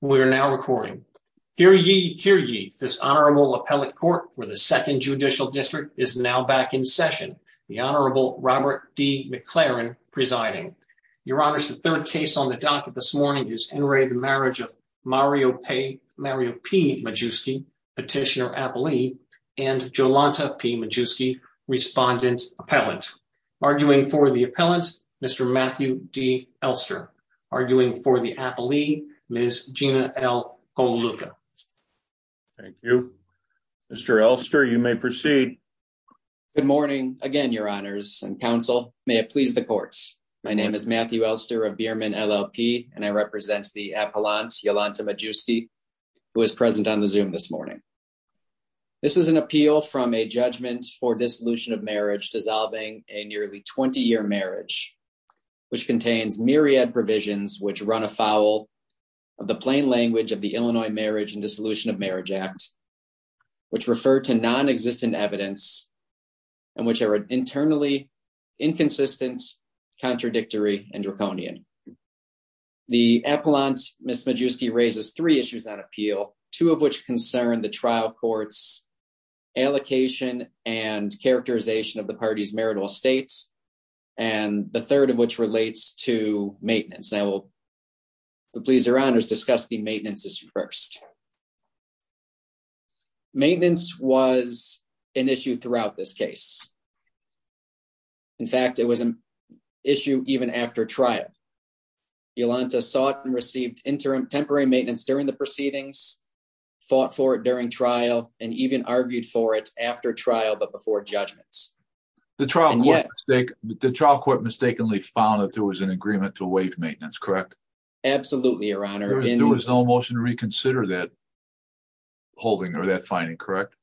We are now recording. Hear ye, hear ye, this Honorable Appellate Court for the Second Judicial District is now back in session, the Honorable Robert D. McLaren presiding. Your Honors, the third case on the docket this morning is N. Ray, the marriage of Mario P. Majewski, Petitioner-Appellee, and Jolanta P. Majewski, Respondent-Appellant. Arguing for the Appellant, Mr. Matthew D. Elster. Arguing for the Appellee, Ms. Gina L. Colaluca. Thank you. Mr. Elster, you may proceed. Good morning again, Your Honors and Counsel. May it please the Court. My name is Matthew Elster of Biermann, LLP, and I represent the Appellant, Jolanta Majewski, who is present on the Zoom this morning. This is an appeal from a judgment for dissolution of marriage dissolving a nearly 20-year marriage, which contains myriad provisions which run afoul of the plain language of the Illinois Marriage and Dissolution of Marriage Act, which refer to nonexistent evidence, and which are internally inconsistent, contradictory, and draconian. The Appellant, Ms. Majewski, raises three issues on appeal, two of which concern the trial court's allocation and characterization of the party's marital estate, and the third of which relates to maintenance. And I will please Your Honors discuss the maintenance issue first. Maintenance was an issue throughout this case. In fact, it was an issue even after trial. Jolanta sought and received interim temporary maintenance during the proceedings, fought for it during trial, and even argued for it after trial but before judgments. The trial court mistakenly found that there was an agreement to waive maintenance, correct? Absolutely, Your Honor. There was no motion to reconsider that holding or that finding, correct?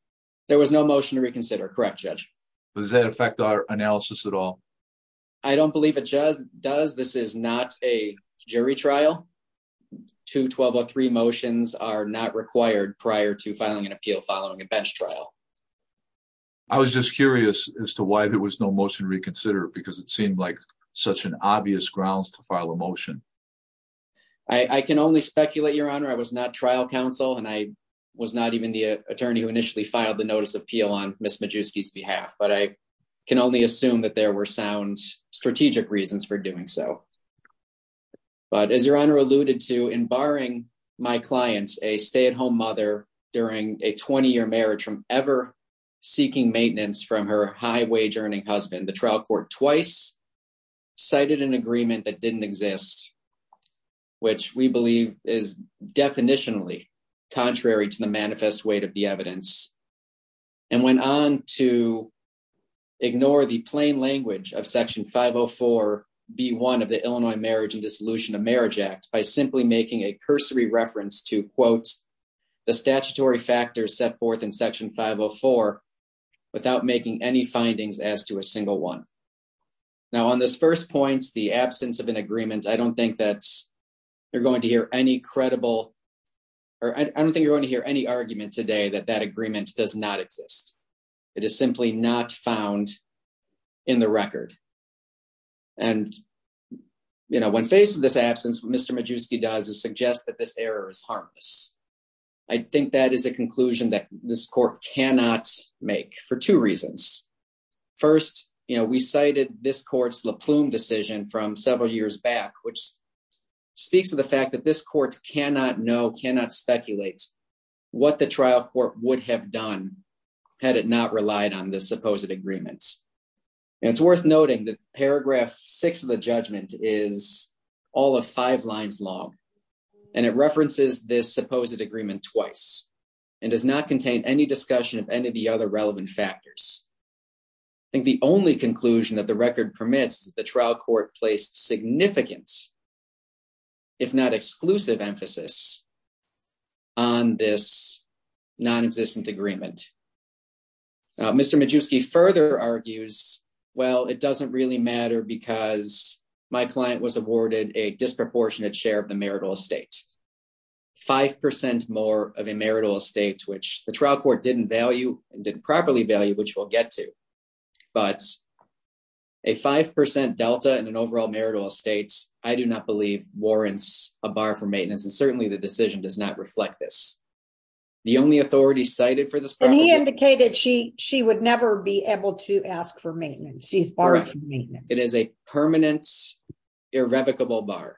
There was no motion to reconsider, correct, Judge. Does that affect our analysis at all? I don't believe it does. This is not a jury trial. Two 1203 motions are not required prior to filing an appeal following a bench trial. I was just curious as to why there was no motion to reconsider because it seemed like such an obvious grounds to file a motion. I can only speculate, Your Honor. I was not trial counsel, and I was not even the attorney who initially filed the notice of appeal on Ms. Majewski's behalf. But I can only assume that there were sound strategic reasons for doing so. But as Your Honor alluded to, in barring my client, a stay-at-home mother, during a 20-year marriage from ever seeking maintenance from her high-wage-earning husband, the trial court twice cited an agreement that didn't exist, which we believe is definitionally contrary to the manifest weight of the evidence, and went on to ignore the plain language of Section 504B1 of the Illinois Marriage and Dissolution of Marriage Act by simply making a cursory reference to, quote, the statutory factors set forth in Section 504 without making any Now, on this first point, the absence of an agreement, I don't think that you're going to hear any credible, or I don't think you're going to hear any argument today that that agreement does not exist. It is simply not found in the record. And, you know, when faced with this absence, what Mr. Majewski does is suggest that this error is harmless. I think that is a conclusion that this court cannot make for two reasons. First, you know, we cited this court's La Plume decision from several years back, which speaks to the fact that this court cannot know, cannot speculate what the trial court would have done had it not relied on this supposed agreement. And it's worth noting that paragraph six of the judgment is all of five lines long, and it references this supposed agreement twice, and does not contain any discussion of any of the other relevant factors. I think the only conclusion that the record permits is that the trial court placed significant, if not exclusive, emphasis on this non-existent agreement. Now, Mr. Majewski further argues, well, it doesn't really matter because my client was awarded a disproportionate share of the marital estate, 5% more of a marital estate, which the trial court didn't value and didn't properly value, which we'll get to. But a 5% delta in an overall marital estate, I do not believe warrants a bar for maintenance, and certainly the decision does not reflect this. The only authority cited for this... And he indicated she would never be able to ask for maintenance. It is a permanent, irrevocable bar.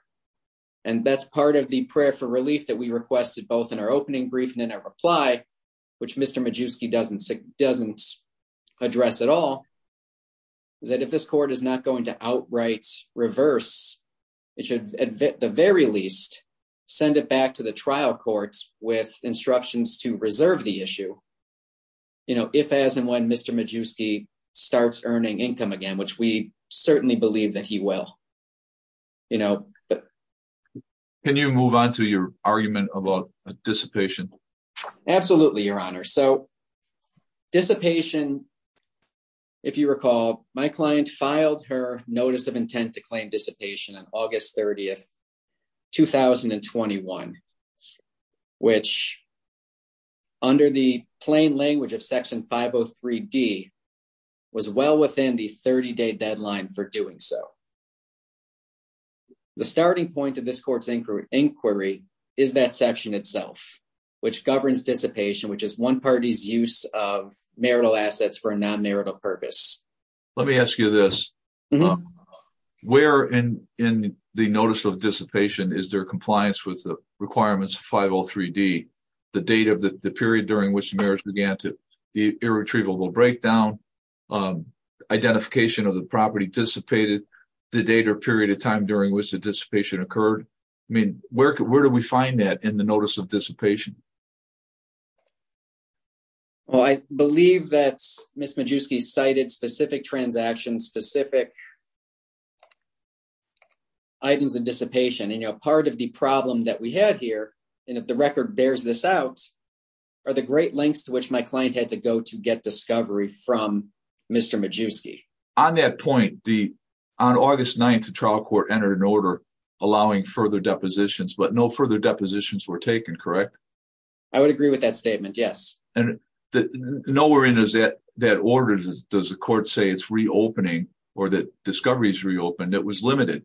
And that's part of the prayer for relief that we requested both in our opening brief and in our reply, which Mr. Majewski doesn't address at all, is that if this court is not going to outright reverse, it should at the very least send it back to the trial courts with instructions to reserve the issue if, as, and when Mr. Majewski starts earning income again, which we certainly believe that he will. Can you move on to your argument about dissipation? Absolutely, Your Honor. So dissipation, if you recall, my client filed her notice of intent to claim dissipation on August 30th, 2021, which under the plain language of Section 503D was well within the 30-day deadline for doing so. The starting point of this court's inquiry is that section itself, which governs dissipation, which is one party's use of marital assets for a non-marital purpose. Let me ask you this. Where in the notice of dissipation is there compliance with the requirements of 503D? The date of the period during which the marriage began, the irretrievable breakdown, identification of the property dissipated, the date or period of time during which the dissipation occurred. I mean, where do we find that in the notice of dissipation? Well, I believe that Ms. Majewski cited specific transactions, specific items of dissipation. And part of the problem that we had here, and if the record bears this out, are the great lengths to which my client had to go to get discovery from Mr. Majewski. On that point, on August 9th, the trial court entered an order allowing further depositions, but no further depositions were taken, correct? I would agree with that statement, yes. Nowhere in that order does the court say it's reopening or that discovery is reopened. It was limited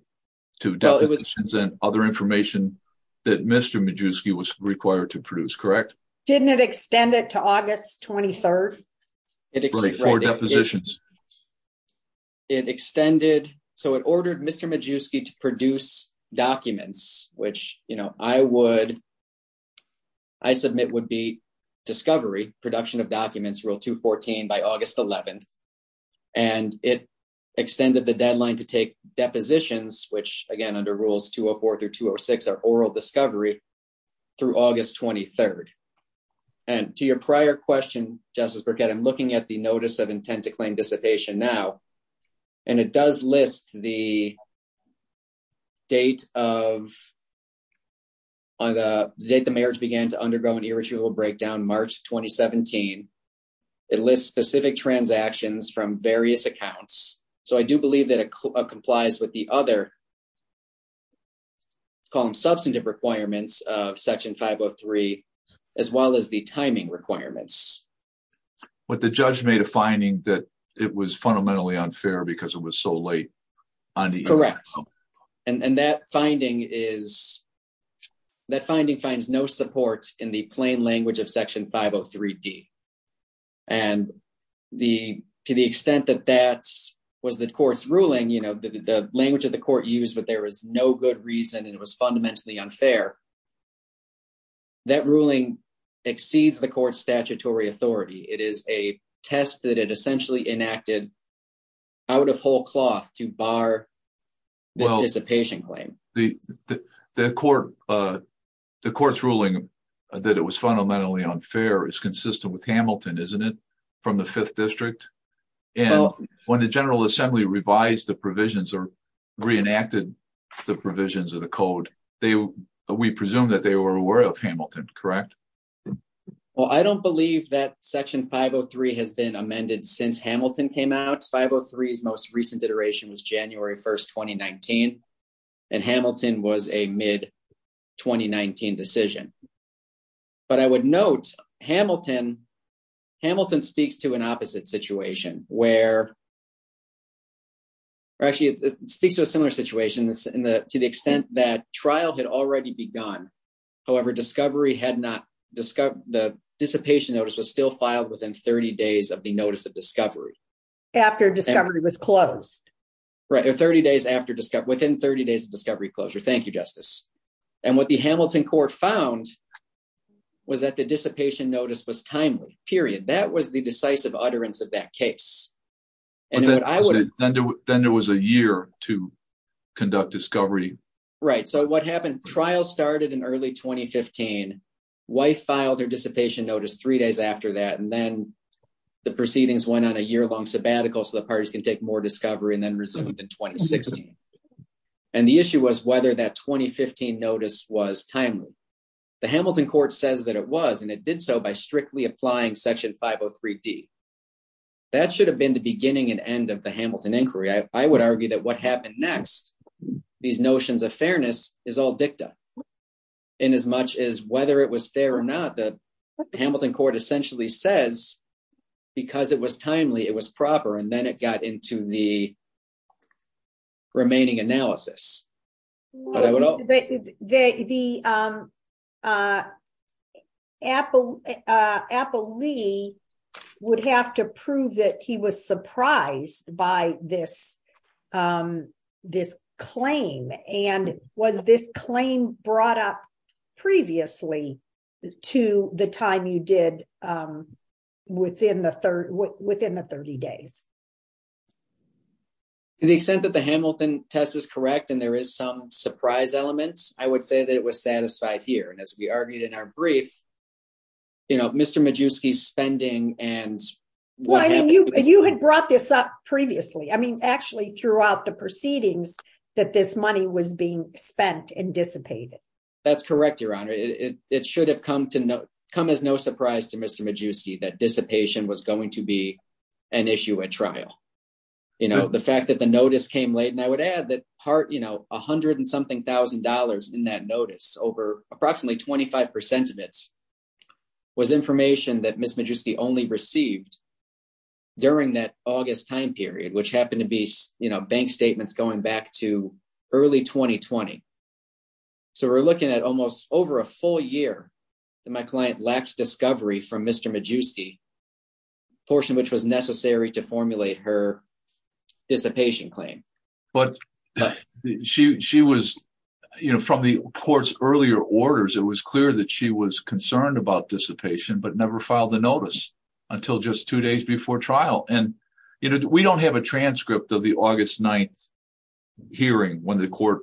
to depositions and other information that Mr. Majewski was required to produce, correct? Didn't it extend it to August 23rd? 24 depositions. It extended, so it ordered Mr. Majewski to produce documents, which, you know, I would, I submit would be discovery, production of documents, Rule 214 by August 11th. And it extended the deadline to take depositions, which, again, under Rules 204 through 206 are oral discovery, through August 23rd. And to your prior question, Justice Burkett, I'm looking at the Notice of Intent to Claim Dissipation now, and it does list the date of, the date the marriage began to undergo an irritable breakdown, March 2017. It lists specific transactions from various accounts. So I do believe that it complies with the other, let's call them substantive requirements of Section 503, as well as the timing requirements. But the judge made a finding that it was fundamentally unfair because it was so late. Correct. And that finding is, that finding finds no support in the plain language of Section 503D. And the, to the extent that that was the court's ruling, you know, the language of the court used that there was no good reason and it was fundamentally unfair, that ruling exceeds the court's statutory authority. It is a test that it essentially enacted out of whole cloth to bar this dissipation claim. The court's ruling that it was fundamentally unfair is consistent with Hamilton, isn't it, from the Fifth District? And when the General Assembly revised the provisions or reenacted the provisions of the code, we presume that they were aware of Hamilton, correct? Well, I don't believe that Section 503 has been amended since Hamilton came out. 503's most recent iteration was January 1st, 2019. And Hamilton was a mid-2019 decision. But I would note Hamilton, Hamilton speaks to an opposite situation where, actually it speaks to a similar situation to the extent that trial had already begun. However, discovery had not, the dissipation notice was still filed within 30 days of the notice of discovery. After discovery was closed. Right, 30 days after discovery, within 30 days of discovery closure. Thank you, Justice. And what the Hamilton court found was that the dissipation notice was timely, period. That was the decisive utterance of that case. Then there was a year to conduct discovery. Right. So what happened? Trial started in early 2015. Wife filed her dissipation notice three days after that. And then the proceedings went on a year long sabbatical. So the parties can take more discovery and then resumed in 2016. And the issue was whether that 2015 notice was timely. The Hamilton court says that it was and it did so by strictly applying Section 503D. That should have been the beginning and end of the Hamilton inquiry. I would argue that what happened next, these notions of fairness is all dicta in as much as whether it was fair or not. The Hamilton court essentially says because it was timely, it was proper. And then it got into the remaining analysis. The Apple Apple Lee would have to prove that he was surprised by this, this claim. And was this claim brought up previously to the time you did within the within the 30 days? To the extent that the Hamilton test is correct and there is some surprise elements, I would say that it was satisfied here. And as we argued in our brief. You know, Mr. Majewski spending and why you had brought this up previously. I mean, actually, throughout the proceedings that this money was being spent and dissipated. That's correct, Your Honor. It should have come to come as no surprise to Mr. Majewski that dissipation was going to be an issue at trial. You know, the fact that the notice came late and I would add that part, you know, 100 and something thousand dollars in that notice over approximately 25 percent of it. Was information that Mr. Majewski only received. During that August time period, which happened to be, you know, bank statements going back to early 2020. So we're looking at almost over a full year that my client lacks discovery from Mr. Majewski portion, which was necessary to formulate her dissipation claim. But she was, you know, from the court's earlier orders, it was clear that she was concerned about dissipation, but never filed the notice until just two days before trial. And, you know, we don't have a transcript of the August 9th hearing when the court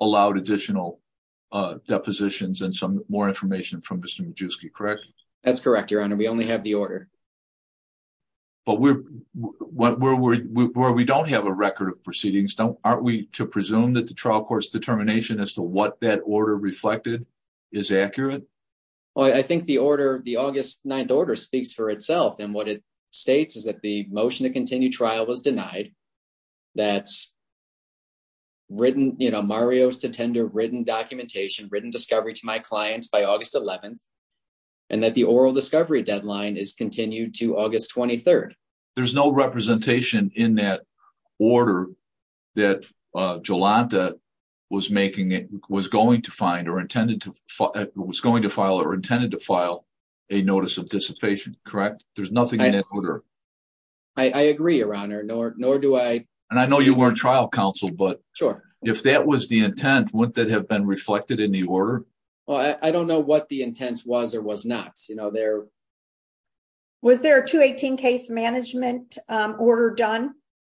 allowed additional depositions and some more information from Mr. Majewski, correct? That's correct, Your Honor. We only have the order. But where we don't have a record of proceedings, aren't we to presume that the trial court's determination as to what that order reflected is accurate? I think the order, the August 9th order speaks for itself. And what it states is that the motion to continue trial was denied. That's written, you know, Mario's to tender written documentation, written discovery to my clients by August 11th. And that the oral discovery deadline is continued to August 23rd. There's no representation in that order that Jolanta was going to file or intended to file a notice of dissipation, correct? There's nothing in that order. I agree, Your Honor, nor do I. And I know you weren't trial counsel, but if that was the intent, wouldn't that have been reflected in the order? Well, I don't know what the intent was or was not. Was there a 218 case management order done?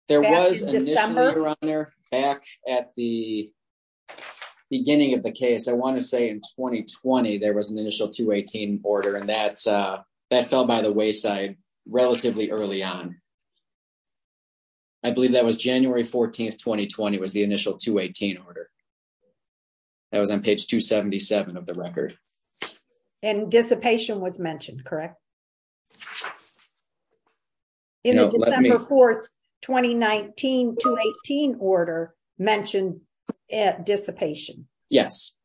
There was initially, Your Honor, back at the beginning of the case, I want to say in 2020, there was an initial 218 order and that fell by the wayside relatively early on. I believe that was January 14th, 2020 was the initial 218 order. That was on page 277 of the record. And dissipation was mentioned, correct? December 4th, 2019 to 18 order mentioned at dissipation. Yes.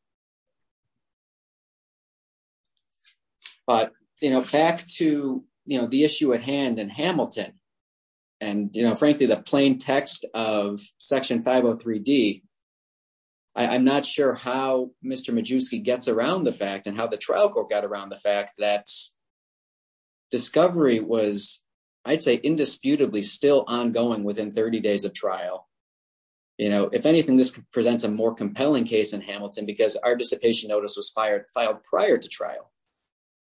But, you know, back to the issue at hand and Hamilton. And, you know, frankly, the plain text of Section 503 D. I'm not sure how Mr. Majewski gets around the fact and how the trial court got around the fact that discovery was, I'd say, indisputably still ongoing within 30 days of trial. You know, if anything, this presents a more compelling case in Hamilton because our dissipation notice was fired, filed prior to trial.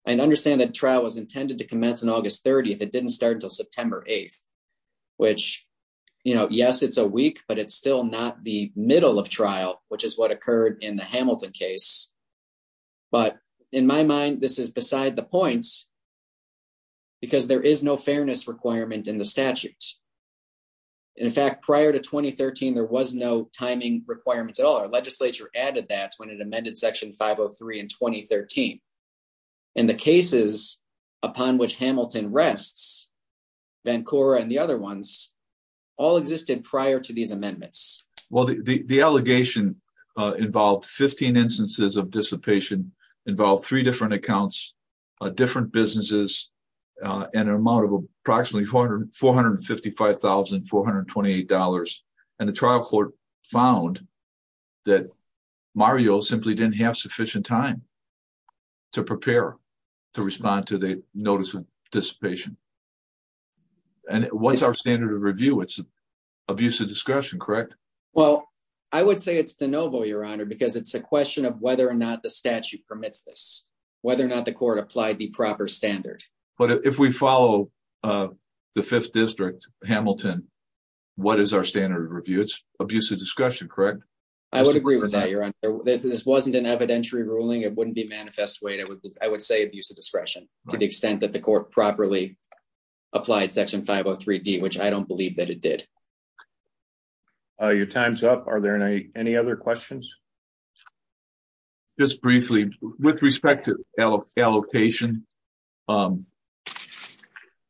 And understand that trial was intended to commence on August 30th. It didn't start until September 8th, which, you know, yes, it's a week, but it's still not the middle of trial, which is what occurred in the Hamilton case. But in my mind, this is beside the point. Because there is no fairness requirement in the statute. In fact, prior to 2013, there was no timing requirements at all. Our legislature added that when it amended Section 503 in 2013. And the cases upon which Hamilton rests, Vancouver and the other ones, all existed prior to these amendments. Well, the allegation involved 15 instances of dissipation, involved three different accounts, different businesses, and an amount of approximately $455,428. And the trial court found that Mario simply didn't have sufficient time to prepare to respond to the notice of dissipation. And what's our standard of review? It's abuse of discretion, correct? Well, I would say it's de novo, Your Honor, because it's a question of whether or not the statute permits this, whether or not the court applied the proper standard. But if we follow the Fifth District, Hamilton, what is our standard of review? It's abuse of discretion, correct? I would agree with that, Your Honor. This wasn't an evidentiary ruling. It wouldn't be manifest weight. I would say abuse of discretion to the extent that the court properly applied Section 503D, which I don't believe that it did. Your time's up. Are there any other questions? Just briefly, with respect to allocation,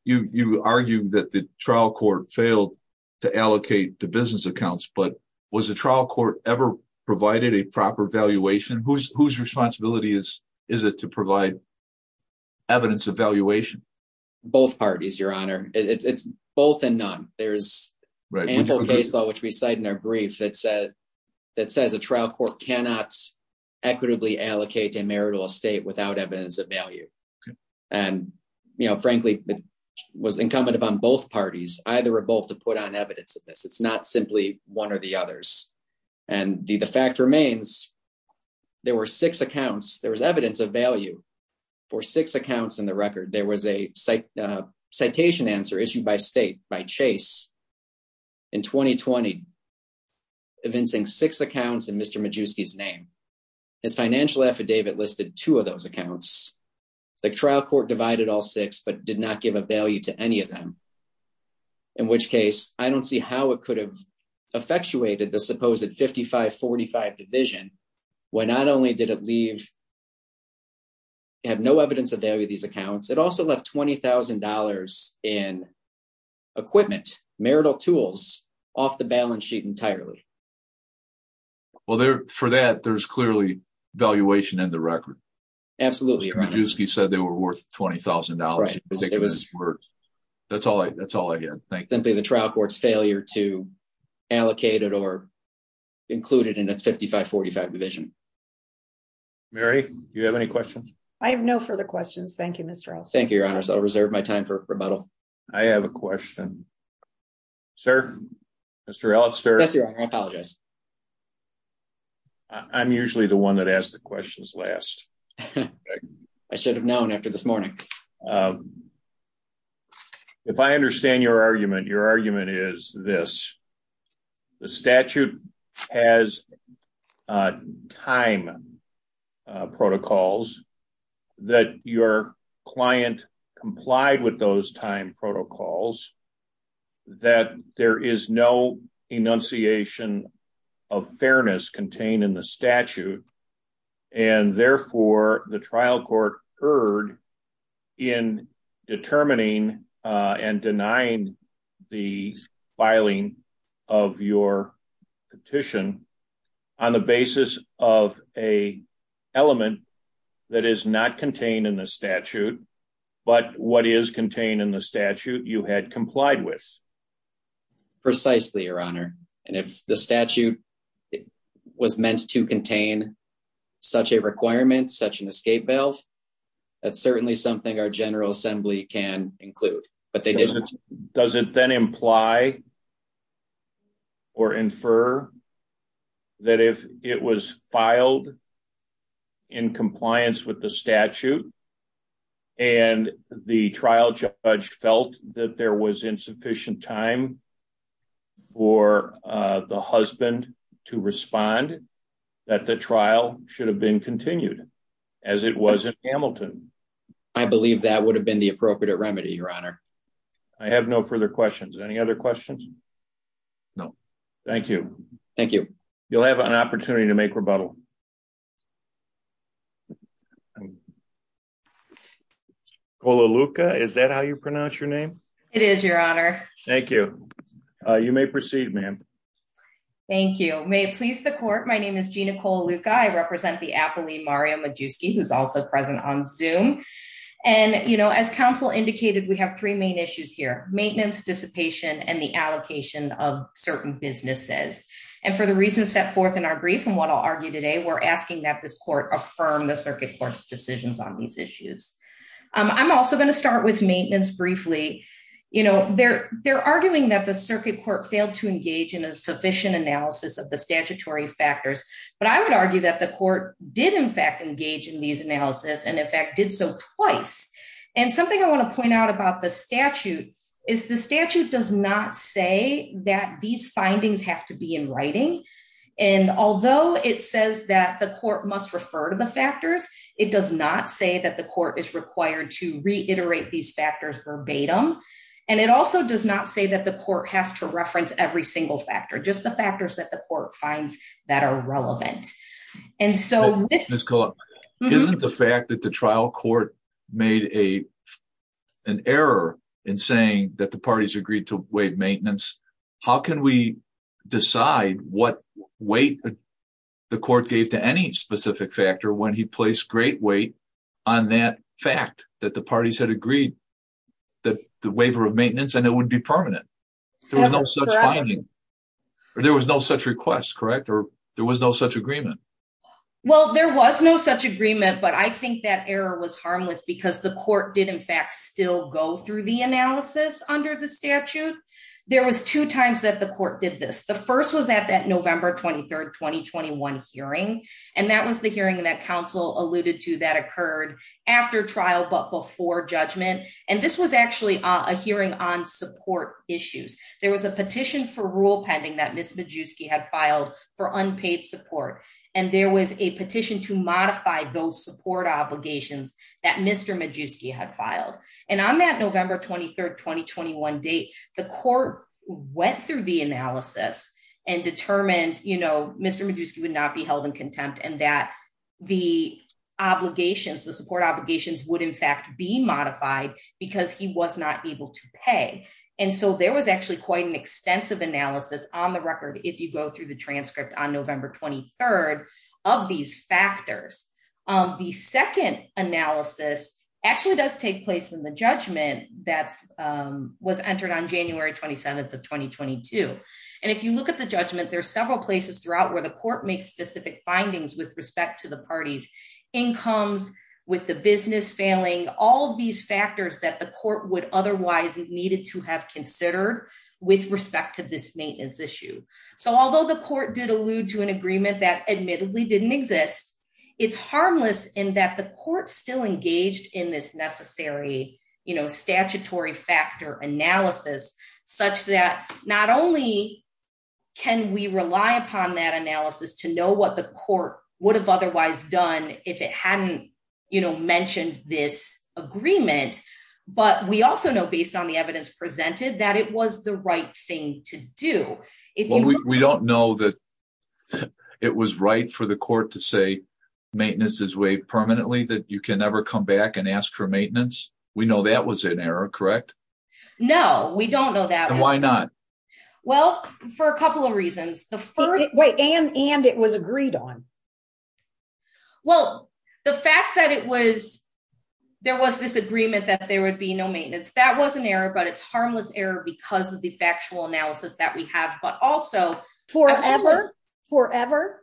you argue that the trial court failed to allocate the business accounts, but was the trial court ever provided a proper valuation? Whose responsibility is it to provide evidence of valuation? Both parties, Your Honor. It's both and none. There's ample case law, which we cite in our brief, that says a trial court cannot equitably allocate a marital estate without evidence of value. And, you know, frankly, it was incumbent upon both parties, either or both, to put on evidence of this. It's not simply one or the others. And the fact remains, there were six accounts. There was evidence of value for six accounts in the record. There was a citation answer issued by state, by Chase, in 2020, evincing six accounts in Mr. Majewski's name. His financial affidavit listed two of those accounts. The trial court divided all six, but did not give a value to any of them. In which case, I don't see how it could have effectuated the supposed 55-45 division, when not only did it have no evidence of value of these accounts, it also left $20,000 in equipment, marital tools, off the balance sheet entirely. Well, for that, there's clearly valuation in the record. Absolutely, Your Honor. Majewski said they were worth $20,000. Right. That's all I get. Simply the trial court's failure to allocate it or include it in its 55-45 division. Mary, do you have any questions? I have no further questions. Thank you, Mr. Elster. Thank you, Your Honor. I'll reserve my time for rebuttal. I have a question. Sir? Mr. Elster? Yes, Your Honor. I apologize. I'm usually the one that asks the questions last. I should have known after this morning. If I understand your argument, your argument is this. The statute has time protocols that your client complied with those time protocols, that there is no enunciation of fairness contained in the statute. And therefore, the trial court erred in determining and denying the filing of your petition on the basis of an element that is not contained in the statute, but what is contained in the statute you had complied with. Precisely, Your Honor. And if the statute was meant to contain such a requirement, such an escape valve, that's certainly something our General Assembly can include. Does it then imply or infer that if it was filed in compliance with the statute and the trial judge felt that there was insufficient time for the husband to respond, that the trial should have been continued as it was in Hamilton? I believe that would have been the appropriate remedy, Your Honor. I have no further questions. Any other questions? No. Thank you. Thank you. You'll have an opportunity to make rebuttal. Colaluka, is that how you pronounce your name? It is, Your Honor. Thank you. You may proceed, ma'am. Thank you. May it please the court, my name is Gina Colaluka. I represent the appellee, Mario Majewski, who's also present on Zoom. And, you know, as counsel indicated, we have three main issues here. Maintenance, dissipation, and the allocation of certain businesses. And for the reasons set forth in our brief and what I'll argue today, we're asking that this court affirm the circuit court's decisions on these issues. I'm also going to start with maintenance briefly. You know, they're arguing that the circuit court failed to engage in a sufficient analysis of the statutory factors. But I would argue that the court did, in fact, engage in these analysis and, in fact, did so twice. And something I want to point out about the statute is the statute does not say that these findings have to be in writing. And although it says that the court must refer to the factors, it does not say that the court is required to reiterate these factors verbatim. And it also does not say that the court has to reference every single factor, just the factors that the court finds that are relevant. Isn't the fact that the trial court made an error in saying that the parties agreed to waive maintenance? How can we decide what weight the court gave to any specific factor when he placed great weight on that fact that the parties had agreed that the waiver of maintenance and it would be permanent? There was no such request, correct? Or there was no such agreement? Well, there was no such agreement, but I think that error was harmless because the court did, in fact, still go through the analysis under the statute. There was two times that the court did this. The first was at that November 23rd, 2021 hearing. And that was the hearing that counsel alluded to that occurred after trial, but before judgment. And this was actually a hearing on support issues. There was a petition for rule pending that Ms. Majewski had filed for unpaid support. And there was a petition to modify those support obligations that Mr. Majewski had filed. And on that November 23rd, 2021 date, the court went through the analysis and determined, you know, Mr. Majewski would not be held in contempt and that the obligations, the support obligations would in fact be modified because he was not able to pay. And so there was actually quite an extensive analysis on the record if you go through the transcript on November 23rd of these factors. The second analysis actually does take place in the judgment that was entered on January 27th of 2022. And if you look at the judgment, there are several places throughout where the court makes specific findings with respect to the party's incomes, with the business failing, all of these factors that the court would otherwise needed to have considered with respect to this maintenance issue. So although the court did allude to an agreement that admittedly didn't exist, it's harmless in that the court still engaged in this necessary, you know, statutory factor analysis, such that not only can we rely upon that analysis to know what the court would have otherwise done if it hadn't, you know, mentioned this agreement, but we also know based on the evidence presented that it was the right thing to do. We don't know that it was right for the court to say maintenance is waived permanently, that you can never come back and ask for maintenance. We know that was an error, correct? No, we don't know that. Why not? Well, for a couple of reasons. And it was agreed on. Well, the fact that it was, there was this agreement that there would be no maintenance, that was an error, but it's harmless error because of the factual analysis that we have, but also... Forever? Forever?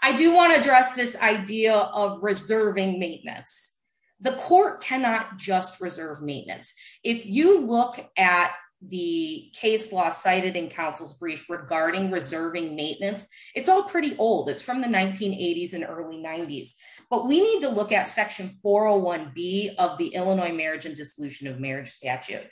I do want to address this idea of reserving maintenance. The court cannot just reserve maintenance. If you look at the case law cited in counsel's brief regarding reserving maintenance, it's all pretty old. It's from the 1980s and early 90s. But we need to look at Section 401B of the Illinois Marriage and Dissolution of Marriage Statute.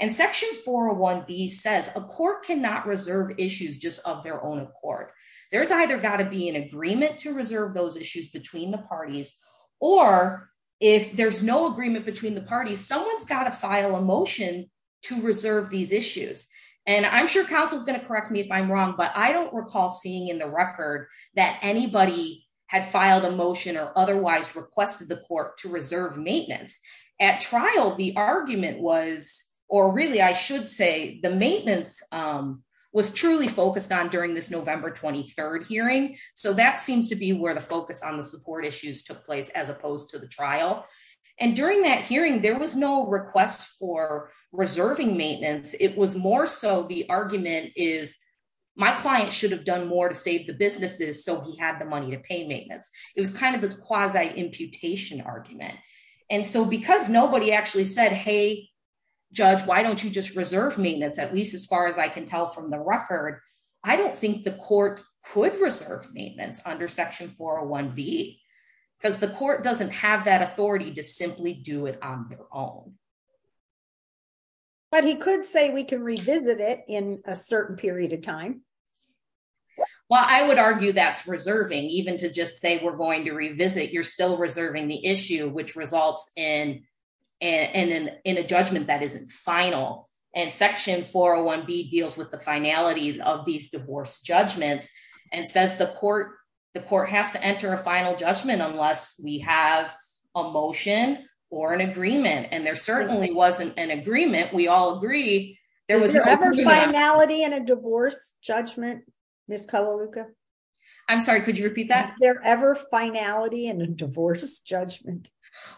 And Section 401B says a court cannot reserve issues just of their own accord. There's either got to be an agreement to reserve those issues between the parties, or if there's no agreement between the parties, someone's got to file a motion to reserve these issues. And I'm sure counsel is going to correct me if I'm wrong, but I don't recall seeing in the record that anybody had filed a motion or otherwise requested the court to reserve maintenance. At trial, the argument was, or really I should say, the maintenance was truly focused on during this November 23rd hearing. So that seems to be where the focus on the support issues took place as opposed to the trial. And during that hearing, there was no request for reserving maintenance. It was more so the argument is, my client should have done more to save the businesses, so he had the money to pay maintenance. It was kind of this quasi-imputation argument. And so because nobody actually said, hey, judge, why don't you just reserve maintenance, at least as far as I can tell from the record, I don't think the court could reserve maintenance under Section 401B, because the court doesn't have that authority to simply do it on their own. But he could say we can revisit it in a certain period of time. Well, I would argue that's reserving. Even to just say we're going to revisit, you're still reserving the issue, which results in a judgment that isn't final. And Section 401B deals with the finalities of these divorce judgments and says the court has to enter a final judgment unless we have a motion or an agreement. And there certainly wasn't an agreement, we all agree. Is there ever finality in a divorce judgment, Ms. Kalaluka? I'm sorry, could you repeat that? Is there ever finality in a divorce judgment?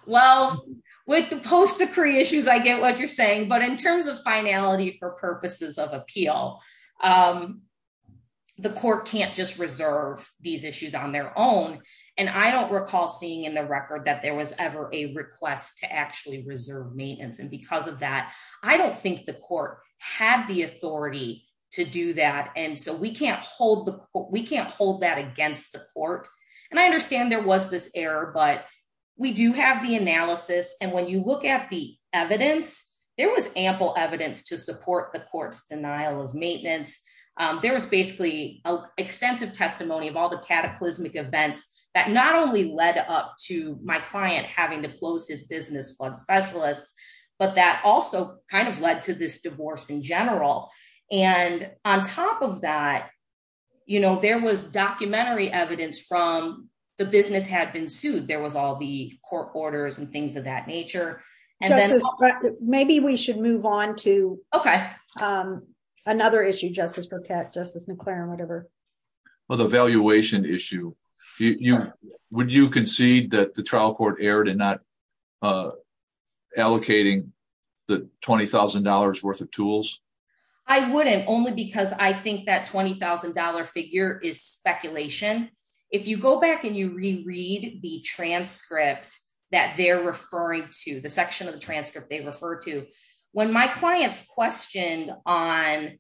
Well, with the post-decree issues, I get what you're saying. But in terms of finality for purposes of appeal, the court can't just reserve these issues on their own. And I don't recall seeing in the record that there was ever a request to actually reserve maintenance. And because of that, I don't think the court had the authority to do that. And so we can't hold that against the court. And I understand there was this error, but we do have the analysis. And when you look at the evidence, there was ample evidence to support the court's denial of maintenance. There was basically extensive testimony of all the cataclysmic events that not only led up to my client having to close his business, plug specialists, but that also kind of led to this divorce in general. And on top of that, you know, there was documentary evidence from the business had been sued. There was all the court orders and things of that nature. Maybe we should move on to another issue, Justice Burkett, Justice McClaren, whatever. Well, the valuation issue, would you concede that the trial court erred in not allocating the $20,000 worth of tools? I wouldn't only because I think that $20,000 figure is speculation. If you go back and you reread the transcript that they're referring to, the section of the transcript they refer to, when my clients questioned on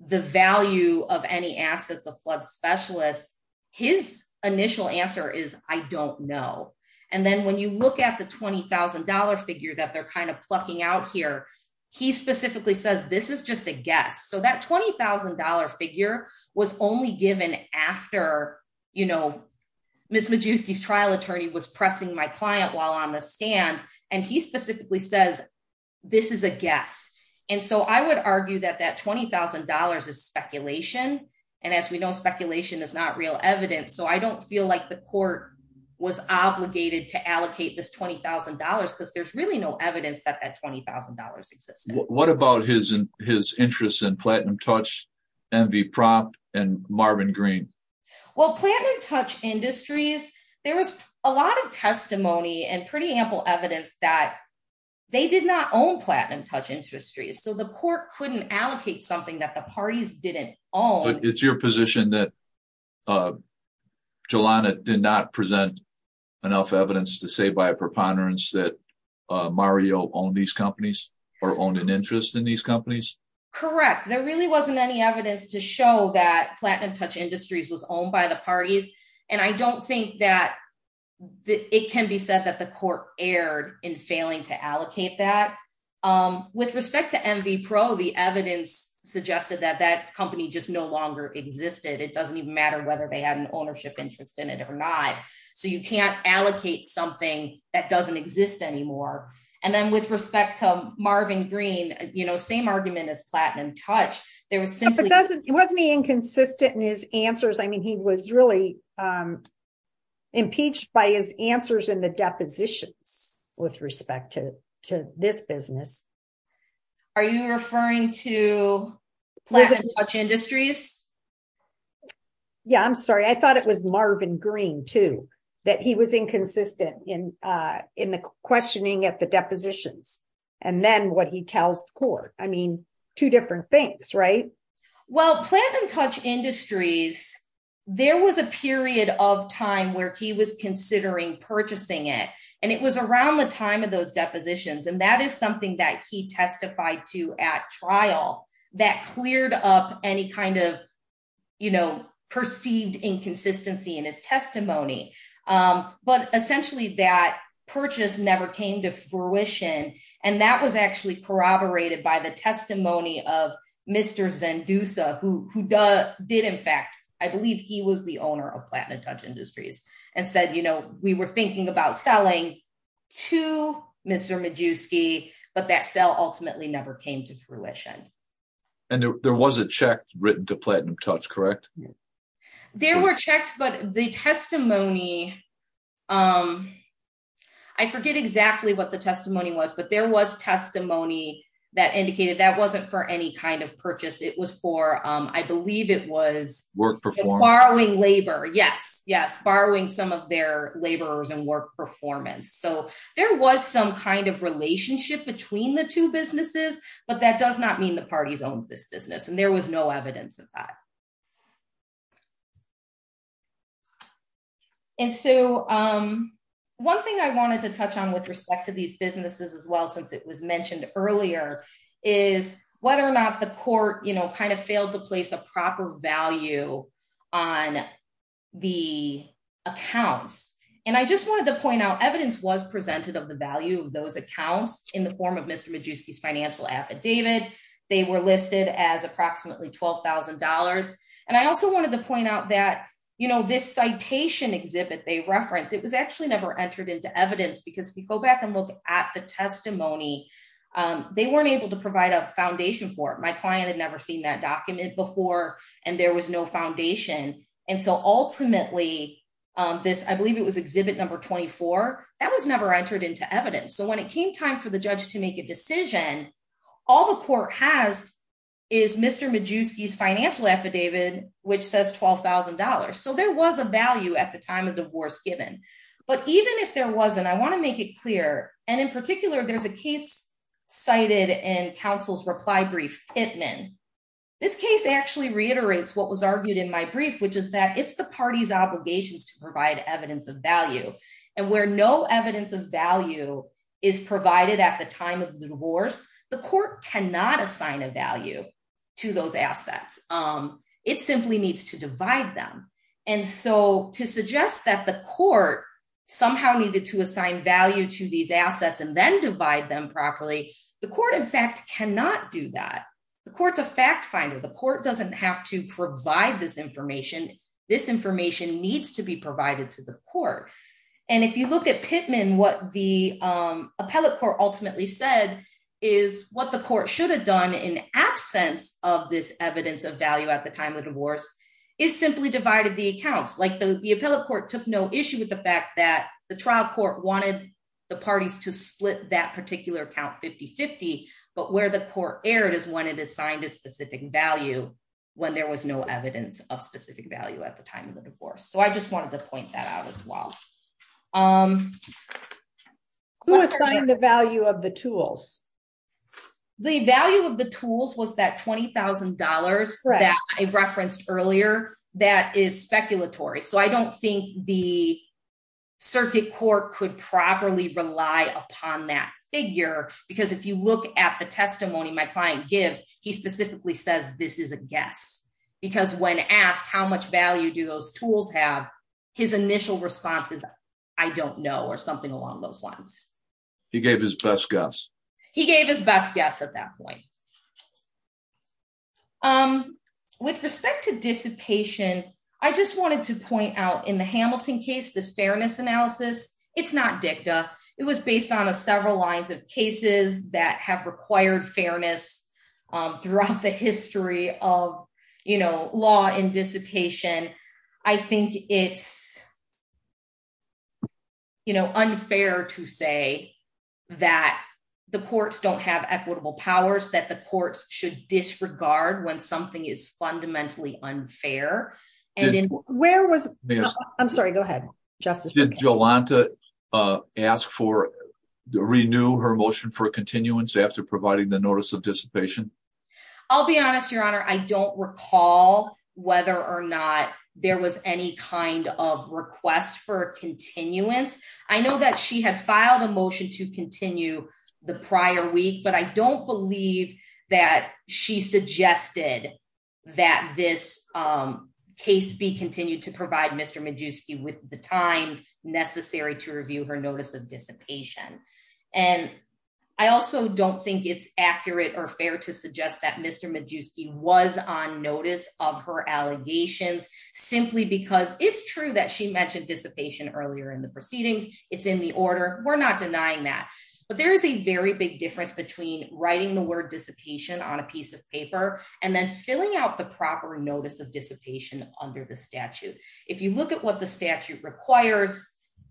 the value of any assets of flood specialists, his initial answer is, I don't know. And then when you look at the $20,000 figure that they're kind of plucking out here, he specifically says, this is just a guess. So that $20,000 figure was only given after, you know, Ms. Majewski's trial attorney was pressing my client while on the stand. And he specifically says, this is a guess. And so I would argue that that $20,000 is speculation. And as we know, speculation is not real evidence. So I don't feel like the court was obligated to allocate this $20,000 because there's really no evidence that that $20,000 existed. What about his interest in Platinum Touch, Envy Prop, and Marvin Green? Well, Platinum Touch Industries, there was a lot of testimony and pretty ample evidence that they did not own Platinum Touch Industries. So the court couldn't allocate something that the parties didn't own. But it's your position that Jelena did not present enough evidence to say by a preponderance that Mario owned these companies or owned an interest in these companies? Correct. There really wasn't any evidence to show that Platinum Touch Industries was owned by the parties. And I don't think that it can be said that the court erred in failing to allocate that. With respect to Envy Pro, the evidence suggested that that company just no longer existed. It doesn't even matter whether they had an ownership interest in it or not. So you can't allocate something that doesn't exist anymore. And then with respect to Marvin Green, you know, same argument as Platinum Touch. But wasn't he inconsistent in his answers? I mean, he was really impeached by his answers in the depositions with respect to this business. Are you referring to Platinum Touch Industries? Yeah, I'm sorry. I thought it was Marvin Green, too, that he was inconsistent in in the questioning at the depositions and then what he tells the court. I mean, two different things, right? Well, Platinum Touch Industries, there was a period of time where he was considering purchasing it. And it was around the time of those depositions. And that is something that he testified to at trial that cleared up any kind of, you know, perceived inconsistency in his testimony. But essentially, that purchase never came to fruition. And that was actually corroborated by the testimony of Mr. Zendusa, who did, in fact, I believe he was the owner of Platinum Touch Industries and said, you know, we were thinking about selling to Mr. Majewski, but that sale ultimately never came to fruition. And there was a check written to Platinum Touch, correct? There were checks, but the testimony. I forget exactly what the testimony was, but there was testimony that indicated that wasn't for any kind of purchase. It was for, I believe it was work before borrowing labor. Yes. Yes. Borrowing some of their laborers and work performance. So there was some kind of relationship between the two businesses, but that does not mean the parties owned this business and there was no evidence of that. And so one thing I wanted to touch on with respect to these businesses as well, since it was mentioned earlier, is whether or not the court, you know, kind of failed to place a proper value on the accounts. And I just wanted to point out evidence was presented of the value of those accounts in the form of Mr. Majewski's financial affidavit. They were listed as approximately twelve thousand dollars. And I also wanted to point out that, you know, this citation exhibit they reference, it was actually never entered into evidence because we go back and look at the testimony. They weren't able to provide a foundation for it. My client had never seen that document before and there was no foundation. And so ultimately this, I believe it was exhibit number twenty four that was never entered into evidence. So when it came time for the judge to make a decision, all the court has is Mr. Majewski's financial affidavit, which says twelve thousand dollars. So there was a value at the time of divorce given. But even if there wasn't, I want to make it clear. And in particular, there's a case cited in counsel's reply brief Hittman. This case actually reiterates what was argued in my brief, which is that it's the party's obligations to provide evidence of value. And where no evidence of value is provided at the time of the divorce, the court cannot assign a value to those assets. It simply needs to divide them. And so to suggest that the court somehow needed to assign value to these assets and then divide them properly. The court, in fact, cannot do that. The court's a fact finder. The court doesn't have to provide this information. This information needs to be provided to the court. And if you look at Pittman, what the appellate court ultimately said is what the court should have done in absence of this evidence of value at the time of divorce is simply divided the accounts. Like the appellate court took no issue with the fact that the trial court wanted the parties to split that particular account 50 50. But where the court erred is when it assigned a specific value, when there was no evidence of specific value at the time of the divorce. So I just wanted to point that out as well. Who assigned the value of the tools? The value of the tools was that $20,000 that I referenced earlier. That is speculatory. So I don't think the circuit court could properly rely upon that figure, because if you look at the testimony my client gives, he specifically says this is a guess. Because when asked how much value do those tools have his initial responses. I don't know or something along those lines. He gave his best guess. He gave his best guess at that point. With respect to dissipation. I just wanted to point out in the Hamilton case this fairness analysis, it's not dicta, it was based on a several lines of cases that have required fairness throughout the history of, you know, law in dissipation. And I think it's, you know, unfair to say that the courts don't have equitable powers that the courts should disregard when something is fundamentally unfair. And where was, I'm sorry, go ahead. Jolanta asked for the renew her motion for continuance after providing the notice of dissipation. I'll be honest, Your Honor, I don't recall whether or not there was any kind of request for continuance. I know that she had filed a motion to continue the prior week but I don't believe that she suggested that this case be continued to provide Mr Medjewski with the time necessary to review her notice of dissipation. And I also don't think it's accurate or fair to suggest that Mr Medjewski was on notice of her allegations, simply because it's true that she mentioned dissipation earlier in the proceedings, it's in the order, we're not denying that. But there is a very big difference between writing the word dissipation on a piece of paper and then filling out the proper notice of dissipation under the statute. If you look at what the statute requires,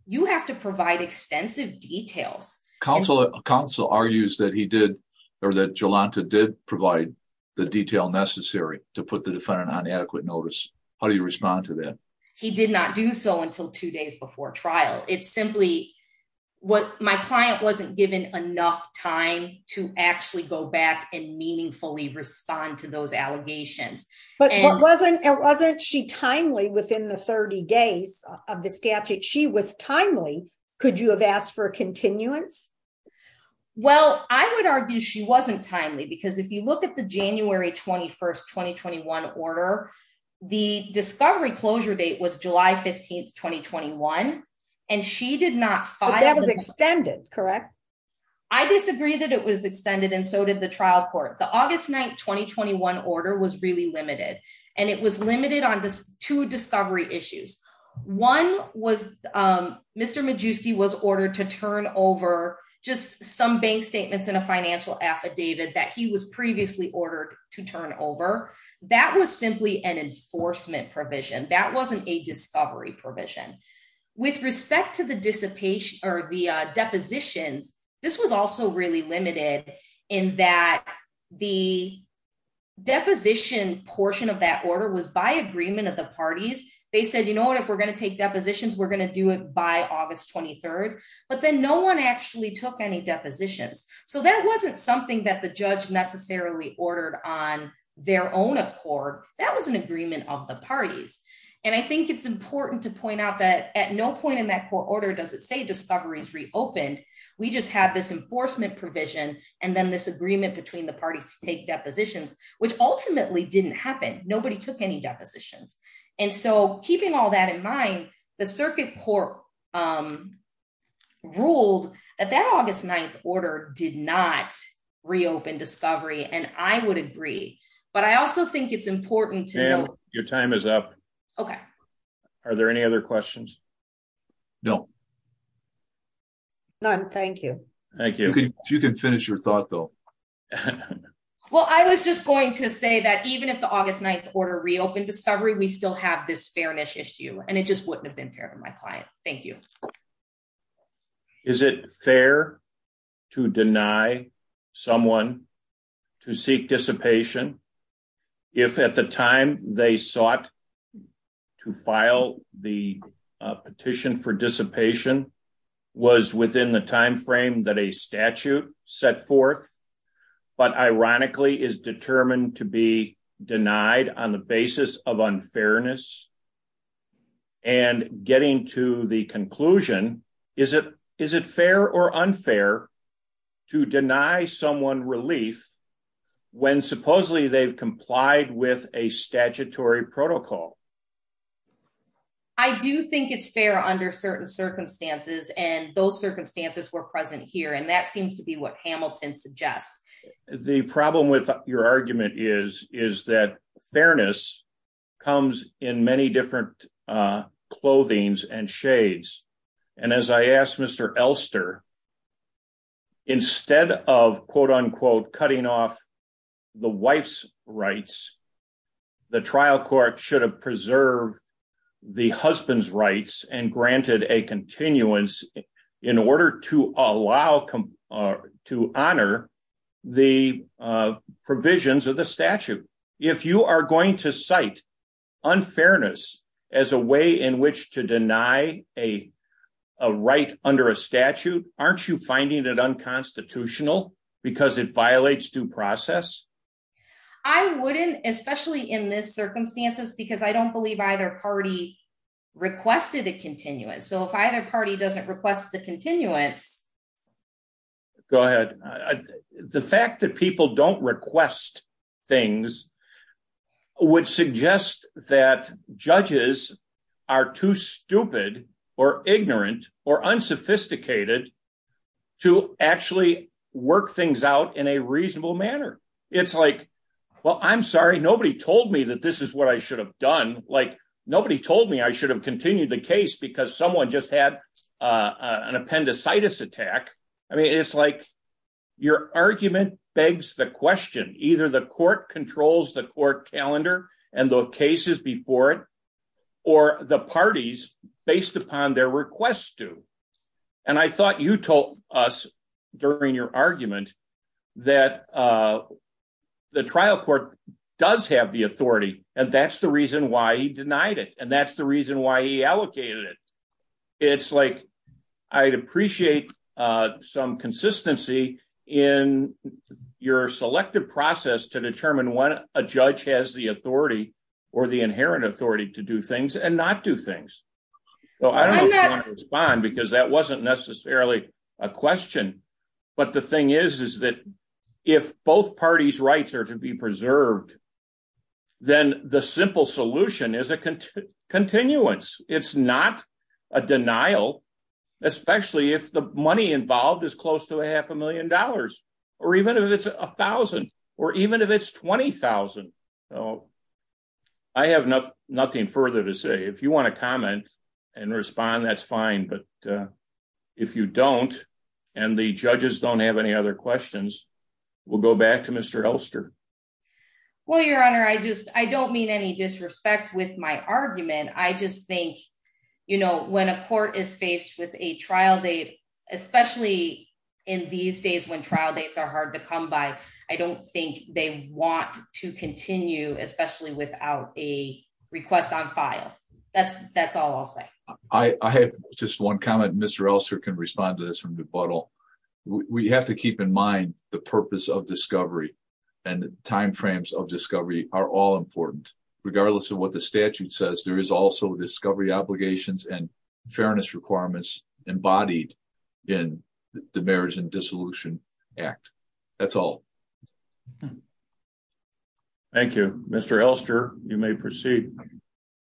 you have to provide extensive details. Counsel argues that he did, or that Jolanta did provide the detail necessary to put the defendant on adequate notice. How do you respond to that? He did not do so until two days before trial. It's simply what my client wasn't given enough time to actually go back and meaningfully respond to those allegations. But wasn't she timely within the 30 days of the statute? She was timely. Could you have asked for continuance? Well, I would argue she wasn't timely because if you look at the January 21st 2021 order, the discovery closure date was July 15th, 2021, and she did not file that was extended, correct. I disagree that it was extended and so did the trial court. The August 9th 2021 order was really limited, and it was limited on two discovery issues. One was Mr. Majewski was ordered to turn over just some bank statements in a financial affidavit that he was previously ordered to turn over. That was simply an enforcement provision. That wasn't a discovery provision. With respect to the depositions, this was also really limited in that the deposition portion of that order was by agreement of the parties. They said, you know what, if we're going to take depositions, we're going to do it by August 23rd, but then no one actually took any depositions. So that wasn't something that the judge necessarily ordered on their own accord. That was an agreement of the parties. And I think it's important to point out that at no point in that court order does it say discoveries reopened. We just have this enforcement provision, and then this agreement between the parties to take depositions, which ultimately didn't happen. Nobody took any depositions. And so keeping all that in mind, the circuit court ruled that that August 9th order did not reopen discovery and I would agree, but I also think it's important to know. Your time is up. Okay. Are there any other questions? No. None. Thank you. Thank you. You can finish your thought though. Well, I was just going to say that even if the August 9th order reopened discovery we still have this fairness issue and it just wouldn't have been fair to my client. Thank you. Is it fair to deny someone to seek dissipation. If at the time, they sought to file the petition for dissipation was within the timeframe that a statute set forth, but ironically is determined to be denied on the basis of unfairness. And getting to the conclusion. Is it, is it fair or unfair to deny someone relief. When supposedly they've complied with a statutory protocol. I do think it's fair under certain circumstances and those circumstances were present here and that seems to be what Hamilton suggests the problem with your argument is, is that fairness comes in many different clothings and shades. And as I asked Mr Elster. Instead of quote unquote cutting off the wife's rights. The trial court should have preserved the husband's rights and granted a continuance in order to allow come to honor the provisions of the statute. If you are going to cite unfairness as a way in which to deny a right under a statute, aren't you finding that unconstitutional because it violates due process. I wouldn't, especially in this circumstances because I don't believe either party requested a continuous so if either party doesn't request the continuance. Go ahead. The fact that people don't request things would suggest that judges are too stupid or ignorant or unsophisticated to actually work things out in a reasonable manner. It's like, well, I'm sorry nobody told me that this is what I should have done, like, nobody told me I should have continued the case because someone just had an appendicitis attack. I mean it's like your argument begs the question, either the court controls the court calendar, and the cases before it, or the parties, based upon their request to. And I thought you told us during your argument that the trial court does have the authority, and that's the reason why he denied it and that's the reason why he allocated it. It's like, I'd appreciate some consistency in your selective process to determine when a judge has the authority or the inherent authority to do things and not do things. So I don't respond because that wasn't necessarily a question. But the thing is, is that if both parties rights are to be preserved, then the simple solution is a continuous, it's not a denial, especially if the money involved is close to a half a million or even if it's $1,000, or even if it's $20,000. I have nothing further to say if you want to comment and respond that's fine but if you don't, and the judges don't have any other questions. We'll go back to Mr. Elster. Well, Your Honor, I just, I don't mean any disrespect with my argument, I just think, you know, when a court is faced with a trial date, especially in these days when trial dates are hard to come by. I don't think they want to continue, especially without a request on file. That's, that's all I'll say. I have just one comment Mr Elster can respond to this from the bottle. We have to keep in mind the purpose of discovery and timeframes of discovery are all important, regardless of what the statute says there is also discovery obligations and fairness requirements embodied in the marriage and dissolution act. That's all. Thank you, Mr Elster, you may proceed.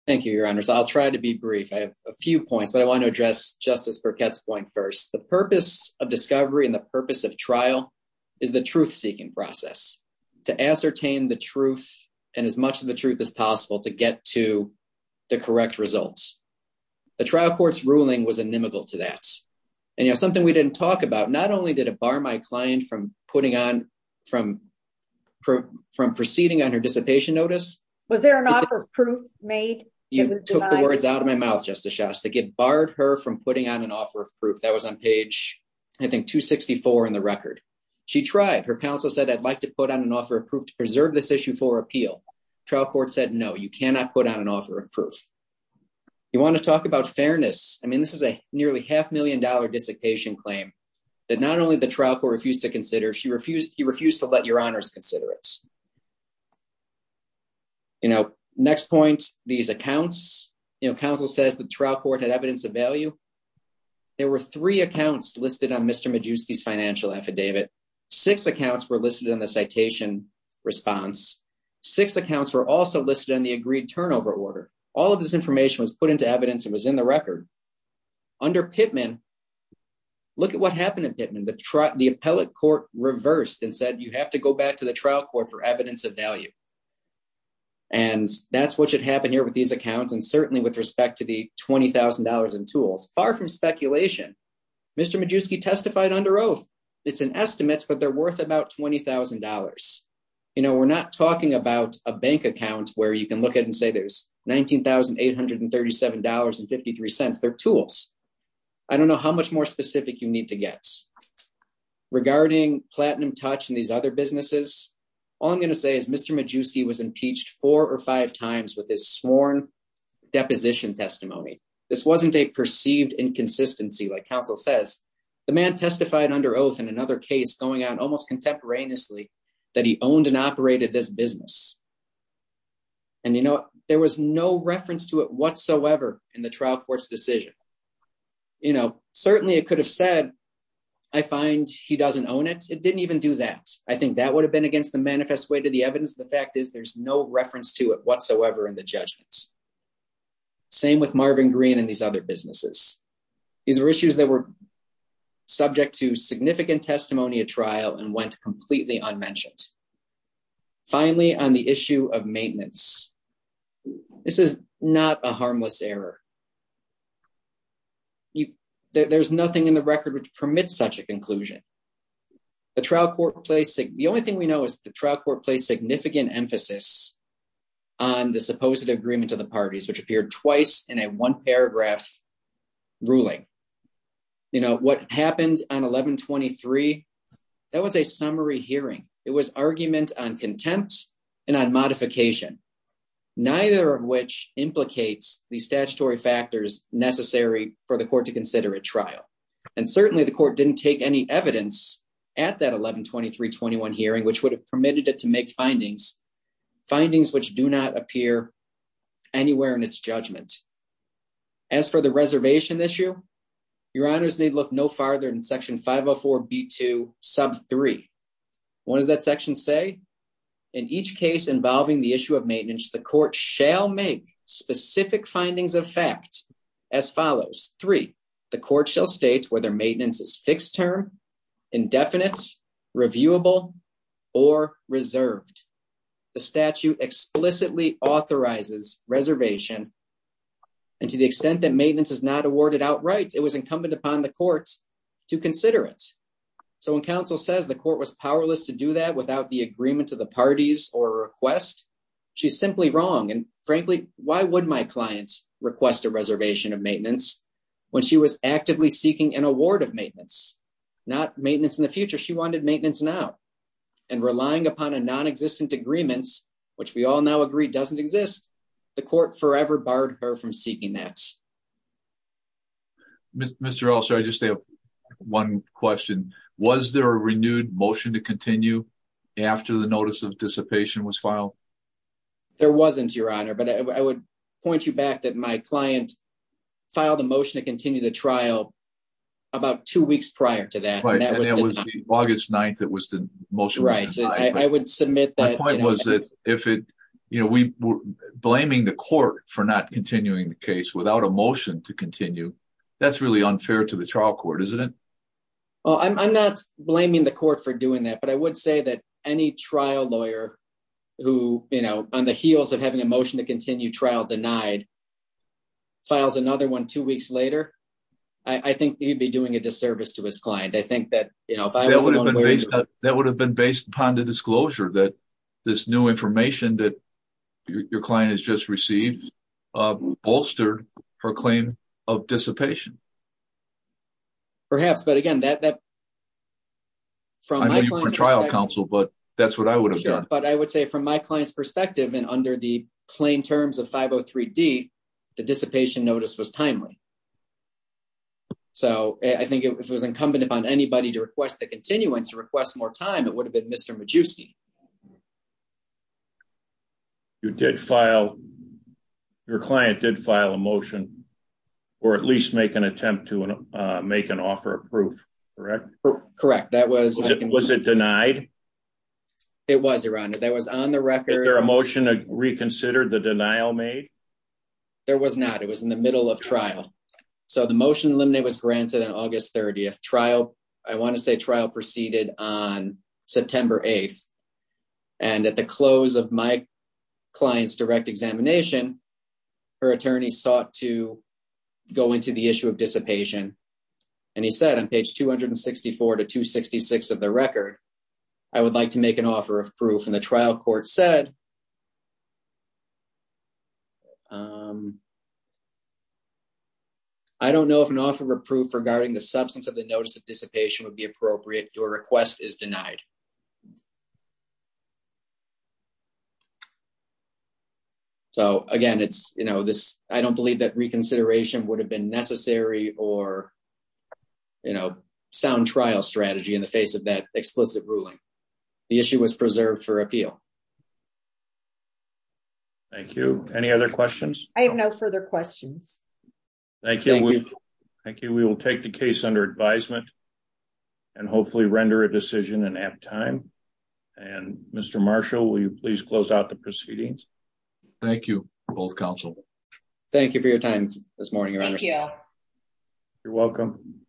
Thank you, Your Honor, so I'll try to be brief I have a few points but I want to address Justice Burkett's point first the purpose of discovery and the purpose of trial is the truth seeking process to ascertain the truth, and as much of the truth as possible to get to the correct results. The trial courts ruling was inimical to that. And you know something we didn't talk about not only did a bar my client from putting on from from from proceeding on her dissipation notice. Was there an offer of proof made? You took the words out of my mouth Justice Shastak it barred her from putting on an offer of proof that was on page. I think 264 in the record. She tried her counsel said I'd like to put on an offer of proof to preserve this issue for appeal trial court said no you cannot put on an offer of proof. You want to talk about fairness, I mean this is a nearly half million dollar dissertation claim that not only the trial court refused to consider she refused he refused to let your honors consider it. You know, next point, these accounts, you know, counsel says the trial court had evidence of value. There were three accounts listed on Mr Medjewski's financial affidavit, six accounts were listed in the citation response, six accounts were also listed on the agreed turnover order, all of this information was put into evidence it was in the record. Under Pittman. Look at what happened in Pittman the truck the appellate court reversed and said you have to go back to the trial court for evidence of value. And that's what should happen here with these accounts and certainly with respect to the $20,000 in tools, far from speculation. Mr Medjewski testified under oath. It's an estimate but they're worth about $20,000. You know we're not talking about a bank account where you can look at and say there's $19,837 and 53 cents they're tools. I don't know how much more specific you need to get. Regarding platinum touch and these other businesses. All I'm going to say is Mr Medjewski was impeached four or five times with this sworn deposition testimony. This wasn't a perceived inconsistency like counsel says the man testified under oath and another case going on almost contemporaneously that he owned and operated this business. And you know, there was no reference to it whatsoever in the trial courts decision. You know, certainly it could have said, I find he doesn't own it, it didn't even do that. I think that would have been against the manifest way to the evidence of the fact is there's no reference to it whatsoever in the judgments. Same with Marvin green and these other businesses. These are issues that were subject to significant testimony a trial and went completely unmentioned. Finally, on the issue of maintenance. This is not a harmless error. There's nothing in the record which permits such a conclusion. The trial court place. The only thing we know is the trial court place significant emphasis on the supposed agreement to the parties which appeared twice in a one paragraph ruling. You know what happens on 1123. That was a summary hearing, it was argument on contempt and on modification, neither of which implicates the statutory factors necessary for the court to consider a trial. And certainly the court didn't take any evidence at that 1123 21 hearing which would have permitted it to make findings findings which do not appear anywhere in its judgment. As for the reservation issue. Your honors need look no farther than section 504 be to sub three. What does that section say. In each case involving the issue of maintenance the court shall make specific findings of fact, as follows, three, the court shall state whether maintenance is fixed term indefinite reviewable or reserved. The statute explicitly authorizes reservation. And to the extent that maintenance is not awarded outright it was incumbent upon the courts to consider it. So when counsel says the court was powerless to do that without the agreement to the parties or request. She's simply wrong and frankly, why would my clients request a reservation of maintenance. When she was actively seeking an award of maintenance, not maintenance in the future she wanted maintenance now. And relying upon a non existent agreements, which we all now agree doesn't exist. The court forever barred her from seeking that. Mr. Also I just have one question. Was there a renewed motion to continue. After the notice of dissipation was filed. There wasn't your honor but I would point you back that my client filed a motion to continue the trial. About two weeks prior to that August 9 that was the most right I would submit that point was that if it, you know, we were blaming the court for not continuing the case without a motion to continue. That's really unfair to the trial court isn't it. Well I'm not blaming the court for doing that but I would say that any trial lawyer who, you know, on the heels of having a motion to continue trial denied files another one two weeks later. I think he'd be doing a disservice to his client I think that, you know, that would have been based upon the disclosure that this new information that your client has just received bolstered her claim of dissipation. Perhaps but again that from trial counsel but that's what I would have done, but I would say from my client's perspective and under the plain terms of 503 D. The dissipation notice was timely. So, I think it was incumbent upon anybody to request the continuance to request more time it would have been Mr Medici. You did file your client did file a motion, or at least make an attempt to make an offer of proof. Correct. Correct. That was, was it denied. It was around it that was on the record there a motion to reconsider the denial made. There was not it was in the middle of trial. So the motion limit was granted on August 30 trial. I want to say trial proceeded on September 8. And at the close of my clients direct examination. Her attorney sought to go into the issue of dissipation. And he said on page 264 to 266 of the record. I would like to make an offer of proof in the trial court said I don't know if an offer of proof regarding the substance of the notice of dissipation would be appropriate to a request is denied. So, again, it's, you know, this, I don't believe that reconsideration would have been necessary, or, you know, sound trial strategy in the face of that explicit ruling. The issue was preserved for appeal. Thank you. Any other questions. I have no further questions. Thank you. Thank you. We will take the case under advisement. And hopefully render a decision and have time. And Mr. Marshall, will you please close out the proceedings. Thank you, both counsel. Thank you for your time this morning. You're welcome.